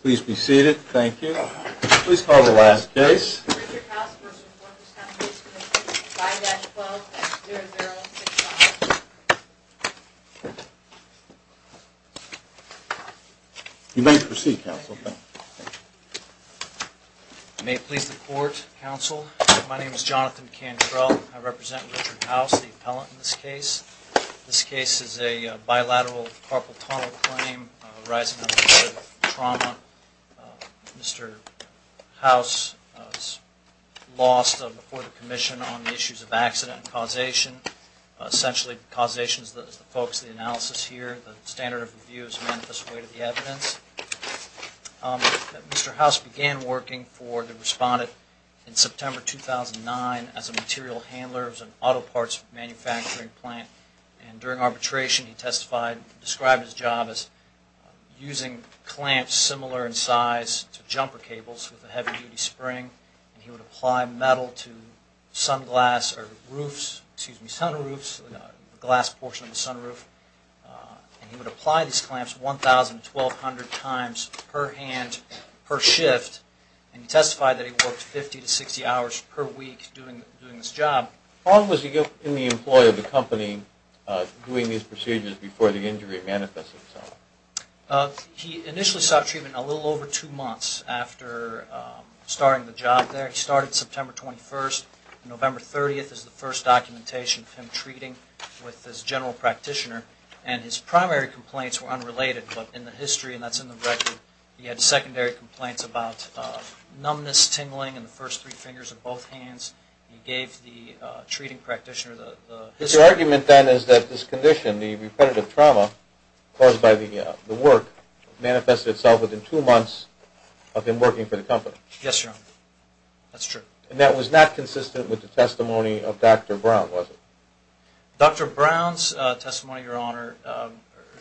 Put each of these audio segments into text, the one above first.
Please be seated. Thank you. Please call the last case. Richard House v. Workers' Compensation Comm'n, 5-12-0065. You may proceed, Counsel. May it please the Court, Counsel, my name is Jonathan Cantrell. I represent Richard House, the appellant in this case. This case is a bilateral carpal tunnel claim arising out of a murder-trauma. Mr. House lost a report of commission on the issues of accident and causation. Essentially, causation is the focus of the analysis here. The standard of review is a manifest way to the evidence. Mr. House began working for the respondent in September 2009 as a material handler. He served in auto parts manufacturing plant. During arbitration, he described his job as using clamps similar in size to jumper cables with a heavy-duty spring. He would apply metal to the glass portion of the sunroof. He would apply these clamps 1,000 to 1,200 times per hand per shift. He testified that he worked 50 to 60 hours per week doing this job. How long was he in the employ of the company doing these procedures before the injury manifested itself? He initially sought treatment a little over two months after starting the job there. He started September 21st. November 30th is the first documentation of him treating with his general practitioner. His primary complaints were unrelated, but in the history, and that's in the record, he had secondary complaints about numbness, tingling in the first three fingers of both hands. He gave the treating practitioner the history. But your argument then is that this condition, the reported trauma caused by the work, manifested itself within two months of him working for the company. Yes, Your Honor. That's true. And that was not consistent with the testimony of Dr. Brown, was it? Dr. Brown's testimony, Your Honor,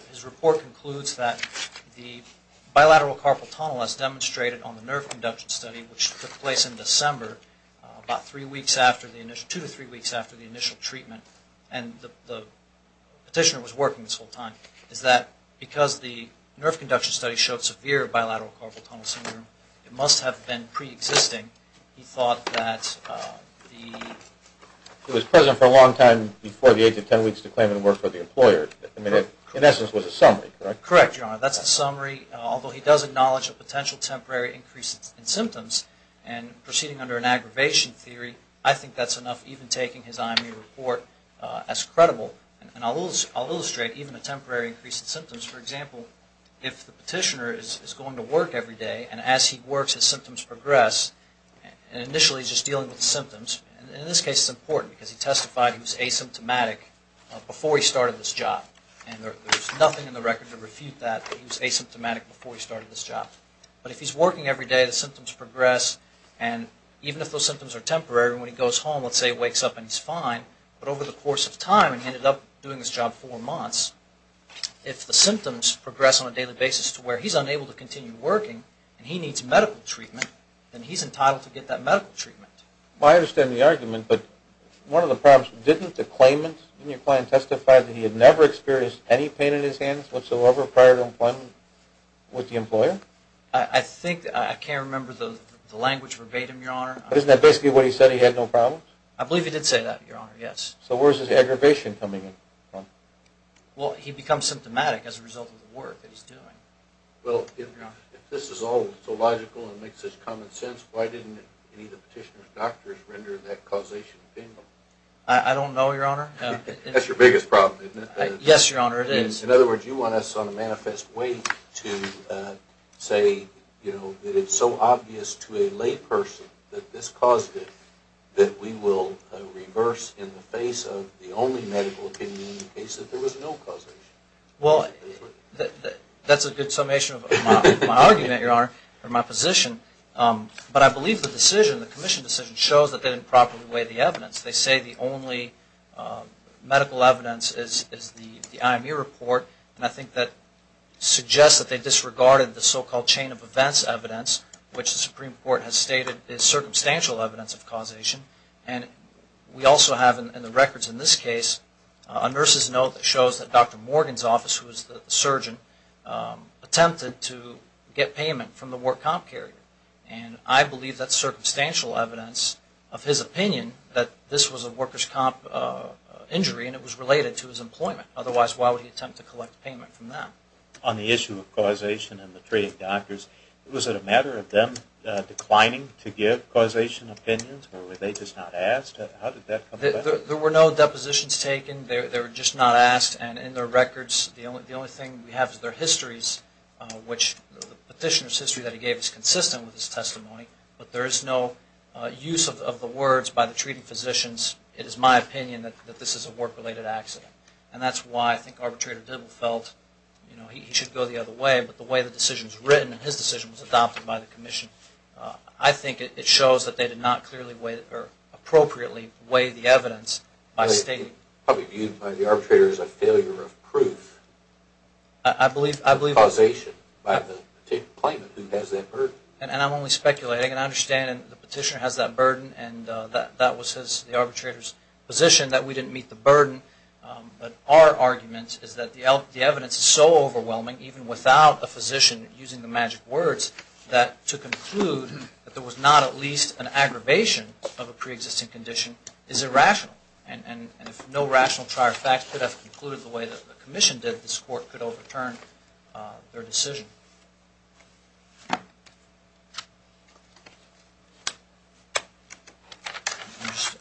his report concludes that the bilateral carpal tunnel as demonstrated on the nerve conduction study, which took place in December, about two to three weeks after the initial treatment, and the petitioner was working this whole time, is that because the nerve conduction study showed severe bilateral carpal tunnel syndrome, it must have been preexisting. He thought that the... He was present for a long time before the age of 10 weeks to claim and work for the employer. In essence, it was a summary, correct? Correct, Your Honor. That's a summary. Although he does acknowledge a potential temporary increase in symptoms, and proceeding under an aggravation theory, I think that's enough even taking his IME report as credible. And I'll illustrate even a temporary increase in symptoms. For example, if the petitioner is going to work every day, and as he works, his symptoms progress, and initially he's just dealing with symptoms, and in this case it's important, because he testified he was asymptomatic before he started this job. And there's nothing in the record to refute that, that he was asymptomatic before he started this job. But if he's working every day, the symptoms progress, and even if those symptoms are temporary, when he goes home, let's say he wakes up and he's fine, but over the course of time, and he ended up doing this job four months, if the symptoms progress on a daily basis to where he's unable to continue working, and he needs medical treatment, then he's entitled to get that medical treatment. Well, I understand the argument, but one of the problems, didn't the claimant, didn't your client testify that he had never experienced any pain in his hands whatsoever prior to employment with the employer? I think, I can't remember the language verbatim, Your Honor. Isn't that basically what he said, he had no problems? I believe he did say that, Your Honor, yes. So where's his aggravation coming from? Well, he becomes symptomatic as a result of the work that he's doing. Well, if this is all so logical and makes such common sense, why didn't any of the petitioner's doctors render that causation to him? I don't know, Your Honor. That's your biggest problem, isn't it? Yes, Your Honor, it is. In other words, you want us on a manifest way to say that it's so obvious to a lay person that this caused it, that we will reverse in the face of the only medical opinion in the case that there was no causation. Well, that's a good summation of my argument, Your Honor, or my position. But I believe the decision, the commission decision, shows that they didn't properly weigh the evidence. They say the only medical evidence is the IMU report, and I think that suggests that they disregarded the so-called chain of events evidence, which the Supreme Court has stated is circumstantial evidence of causation. And we also have in the records in this case a nurse's note that shows that Dr. Morgan's office, who was the surgeon, attempted to get payment from the work comp carrier. And I believe that's circumstantial evidence of his opinion that this was a worker's comp injury and it was related to his employment. Otherwise, why would he attempt to collect payment from them? On the issue of causation and the treating doctors, was it a matter of them declining to give causation opinions, or were they just not asked? How did that come about? There were no depositions taken. They were just not asked. And in the records, the only thing we have is their histories, which the petitioner's history that he gave is consistent with his testimony, but there is no use of the words by the treating physicians, it is my opinion that this is a work-related accident. And that's why I think Arbitrator Dibble felt he should go the other way, but the way the decision was written and his decision was adopted by the commission, I think it shows that they did not clearly weigh or appropriately weigh the evidence by stating. The public view by the arbitrator is a failure of proof. I believe. Of causation by the claimant who has that burden. And I'm only speculating. And I understand the petitioner has that burden and that was the arbitrator's position that we didn't meet the burden. But our argument is that the evidence is so overwhelming, even without a physician using the magic words, that to conclude that there was not at least an aggravation of a preexisting condition is irrational. And if no rational trier of facts could have concluded the way that the commission did, I think that this court could overturn their decision.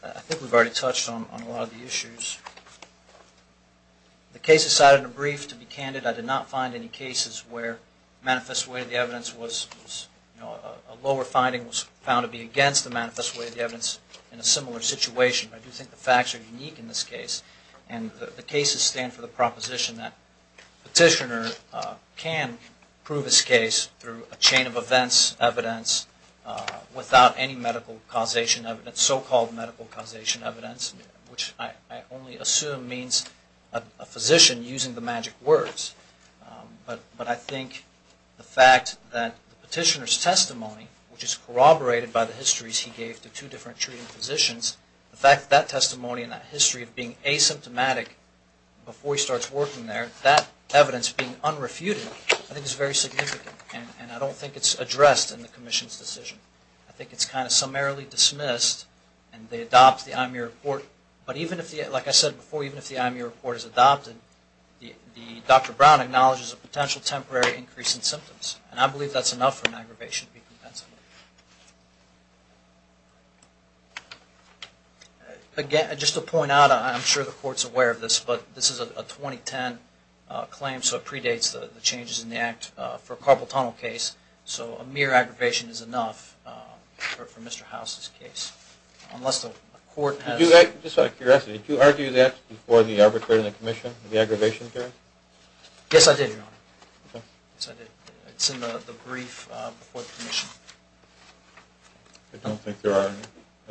I think we've already touched on a lot of the issues. The case is cited in a brief. To be candid, I did not find any cases where manifest way of the evidence was, a lower finding was found to be against the manifest way of the evidence in a similar situation. I do think the facts are unique in this case. And the cases stand for the proposition that petitioner can prove his case through a chain of events, evidence, without any medical causation evidence, so-called medical causation evidence, which I only assume means a physician using the magic words. But I think the fact that the petitioner's testimony, which is corroborated by the histories he gave to two different treating physicians, the fact that that testimony and that history of being asymptomatic before he starts working there, that evidence being unrefuted, I think is very significant. And I don't think it's addressed in the commission's decision. I think it's kind of summarily dismissed and they adopt the IME report. But even if, like I said before, even if the IME report is adopted, And I believe that's enough for an aggravation to be compensable. Again, just to point out, I'm sure the court's aware of this, but this is a 2010 claim, so it predates the changes in the Act for a carpal tunnel case. So a mere aggravation is enough for Mr. House's case, unless the court has- Just out of curiosity, did you argue that before the arbitration commission, the aggravation hearing? Yes, I did, Your Honor. It's in the brief before the commission. I don't think there are any.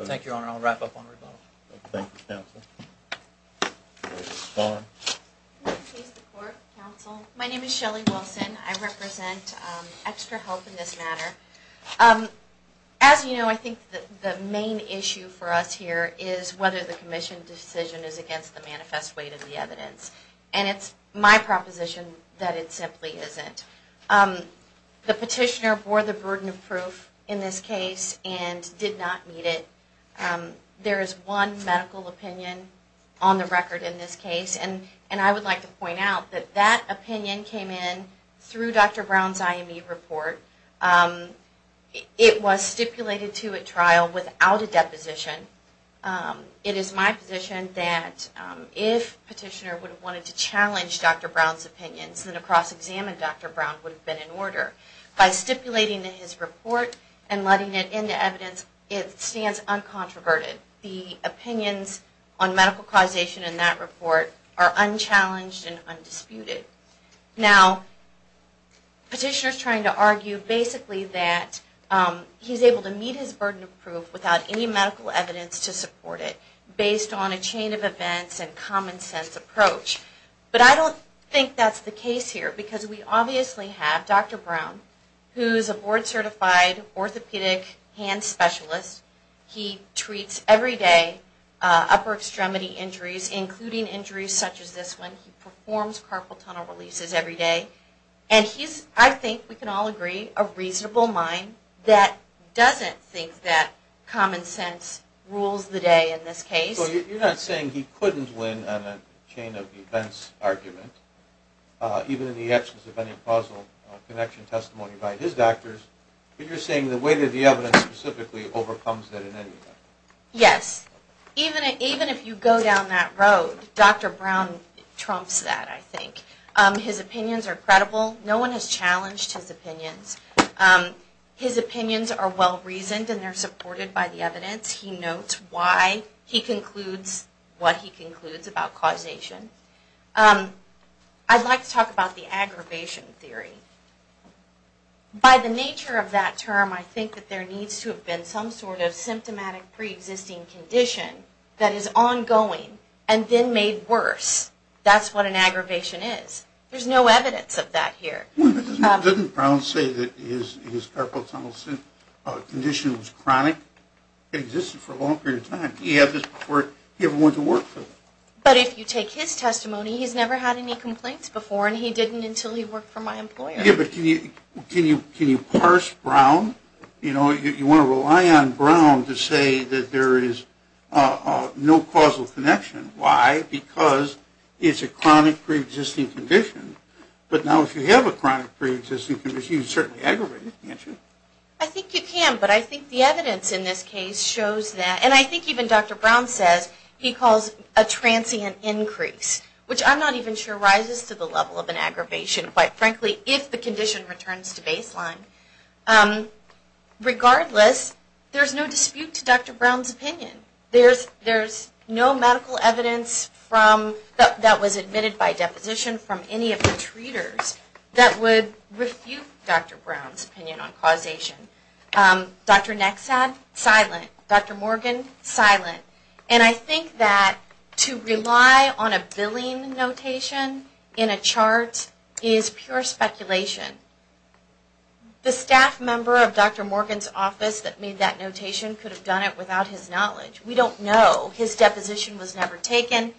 Thank you, Your Honor. I'll wrap up on rebuttal. Thank you, counsel. My name is Shelly Wilson. I represent Extra Help in this matter. As you know, I think the main issue for us here is whether the commission decision is against the manifest weight of the evidence. And it's my proposition that it simply isn't. The petitioner bore the burden of proof in this case and did not meet it. There is one medical opinion on the record in this case, and I would like to point out that that opinion came in through Dr. Brown's IME report. It was stipulated to at trial without a deposition. It is my position that if petitioner would have wanted to challenge Dr. Brown's opinions, then a cross-examined Dr. Brown would have been in order. By stipulating in his report and letting it into evidence, it stands uncontroverted. The opinions on medical causation in that report are unchallenged and undisputed. Now, petitioner's trying to argue basically that he's able to meet his burden of proof without any medical evidence to support it, based on a chain of events and common sense approach. But I don't think that's the case here, because we obviously have Dr. Brown, who's a board-certified orthopedic hand specialist. He treats everyday upper extremity injuries, including injuries such as this one. He performs carpal tunnel releases everyday. And he's, I think we can all agree, a reasonable mind that doesn't think that common sense rules the day in this case. So you're not saying he couldn't win on a chain of events argument, even in the absence of any causal connection testimony by his doctors, but you're saying the way that the evidence specifically overcomes that in any way. Yes. Even if you go down that road, Dr. Brown trumps that, I think. His opinions are credible. No one has challenged his opinions. His opinions are well-reasoned and they're supported by the evidence. He notes why he concludes what he concludes about causation. I'd like to talk about the aggravation theory. By the nature of that term, I think that there needs to have been some sort of symptomatic pre-existing condition that is ongoing and then made worse. That's what an aggravation is. There's no evidence of that here. Didn't Brown say that his carpal tunnel condition was chronic? It existed for a long period of time. Did he have this before he ever went to work? But if you take his testimony, he's never had any complaints before, and he didn't until he worked for my employer. Can you parse Brown? You want to rely on Brown to say that there is no causal connection. Why? Because it's a chronic pre-existing condition. But now if you have a chronic pre-existing condition, you can certainly aggravate it, can't you? I think you can, but I think the evidence in this case shows that. And I think even Dr. Brown says he calls a transient increase, which I'm not even sure rises to the level of an aggravation, quite frankly, if the condition returns to baseline. Regardless, there's no dispute to Dr. Brown's opinion. There's no medical evidence that was admitted by deposition from any of the treaters that would refute Dr. Brown's opinion on causation. Dr. Nexad, silent. Dr. Morgan, silent. And I think that to rely on a billing notation in a chart is pure speculation. The staff member of Dr. Morgan's office that made that notation could have done it without his knowledge. We don't know. His deposition was never taken.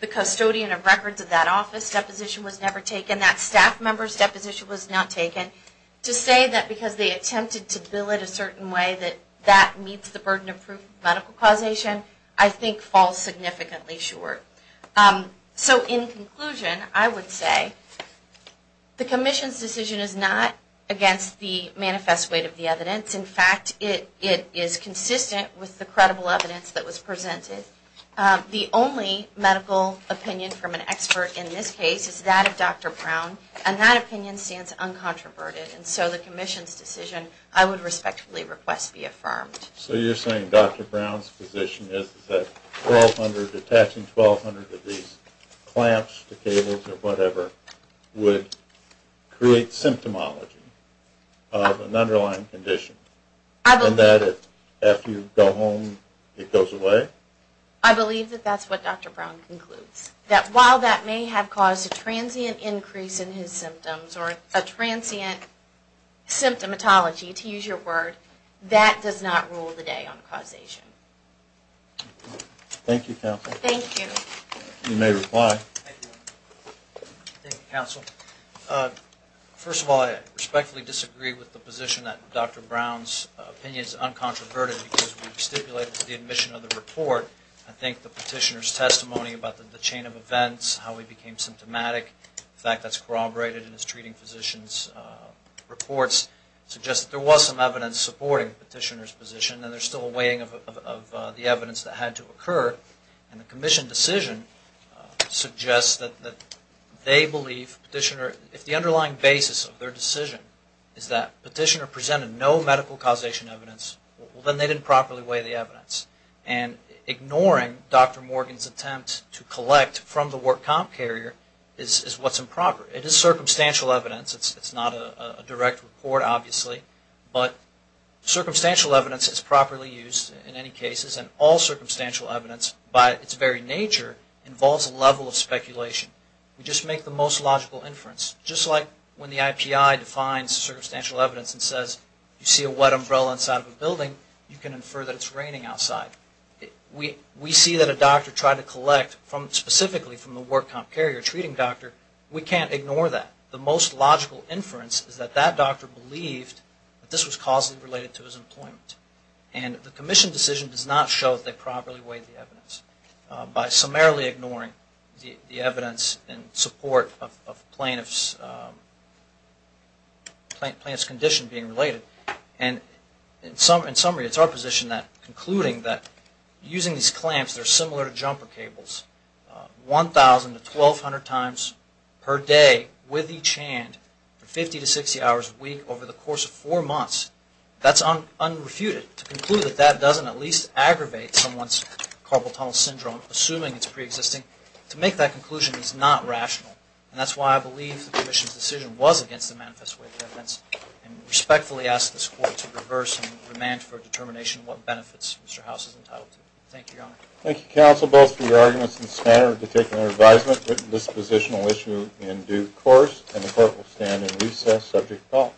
The custodian of records of that office's deposition was never taken. That staff member's deposition was not taken. To say that because they attempted to bill it a certain way that that meets the burden of proof of medical causation, I think falls significantly short. So in conclusion, I would say the Commission's decision is not against the manifest weight of the evidence. In fact, it is consistent with the credible evidence that was presented. The only medical opinion from an expert in this case is that of Dr. Brown, and that opinion stands uncontroverted. And so the Commission's decision I would respectfully request be affirmed. So you're saying Dr. Brown's position is that attaching 1,200 of these clamps to cables or whatever would create symptomology of an underlying condition and that after you go home it goes away? I believe that that's what Dr. Brown concludes. That while that may have caused a transient increase in his symptoms or a transient symptomatology, to use your word, that does not rule the day on causation. Thank you, Counsel. Thank you. You may reply. Thank you, Counsel. First of all, I respectfully disagree with the position that Dr. Brown's opinion is uncontroverted because we stipulated the admission of the report. I think the petitioner's testimony about the chain of events, how he became symptomatic, the fact that's corroborated in his treating physician's reports suggests that there was some evidence supporting the petitioner's position and there's still a weighing of the evidence that had to occur. And the Commission decision suggests that they believe the petitioner, if the underlying basis of their decision is that the petitioner presented no medical causation evidence, then they didn't properly weigh the evidence. And ignoring Dr. Morgan's attempt to collect from the work comp carrier is what's improper. It is circumstantial evidence. It's not a direct report, obviously. But circumstantial evidence is properly used in any cases, and all circumstantial evidence by its very nature involves a level of speculation. We just make the most logical inference. Just like when the IPI defines circumstantial evidence and says, you see a wet umbrella inside of a building, you can infer that it's raining outside. We see that a doctor tried to collect specifically from the work comp carrier, a treating doctor. We can't ignore that. The most logical inference is that that doctor believed that this was causally related to his employment. And the Commission decision does not show that they properly weighed the evidence. By summarily ignoring the evidence in support of plaintiff's condition being related. And in summary, it's our position that concluding that using these clamps that are similar to jumper cables, 1,000 to 1,200 times per day with each hand for 50 to 60 hours a week over the course of four months, that's unrefuted. To conclude that that doesn't at least aggravate someone's carpal tunnel syndrome, assuming it's preexisting, to make that conclusion is not rational. And that's why I believe the Commission's decision was against the manifest weight of evidence. And respectfully ask this Court to reverse and remand for a determination of what benefits Mr. House is entitled to. Thank you, Your Honor. Thank you, counsel, both for your arguments in the spanner of the particular advisement. Dispositional issue in due course. And the Court will stand in recess. Subject, call.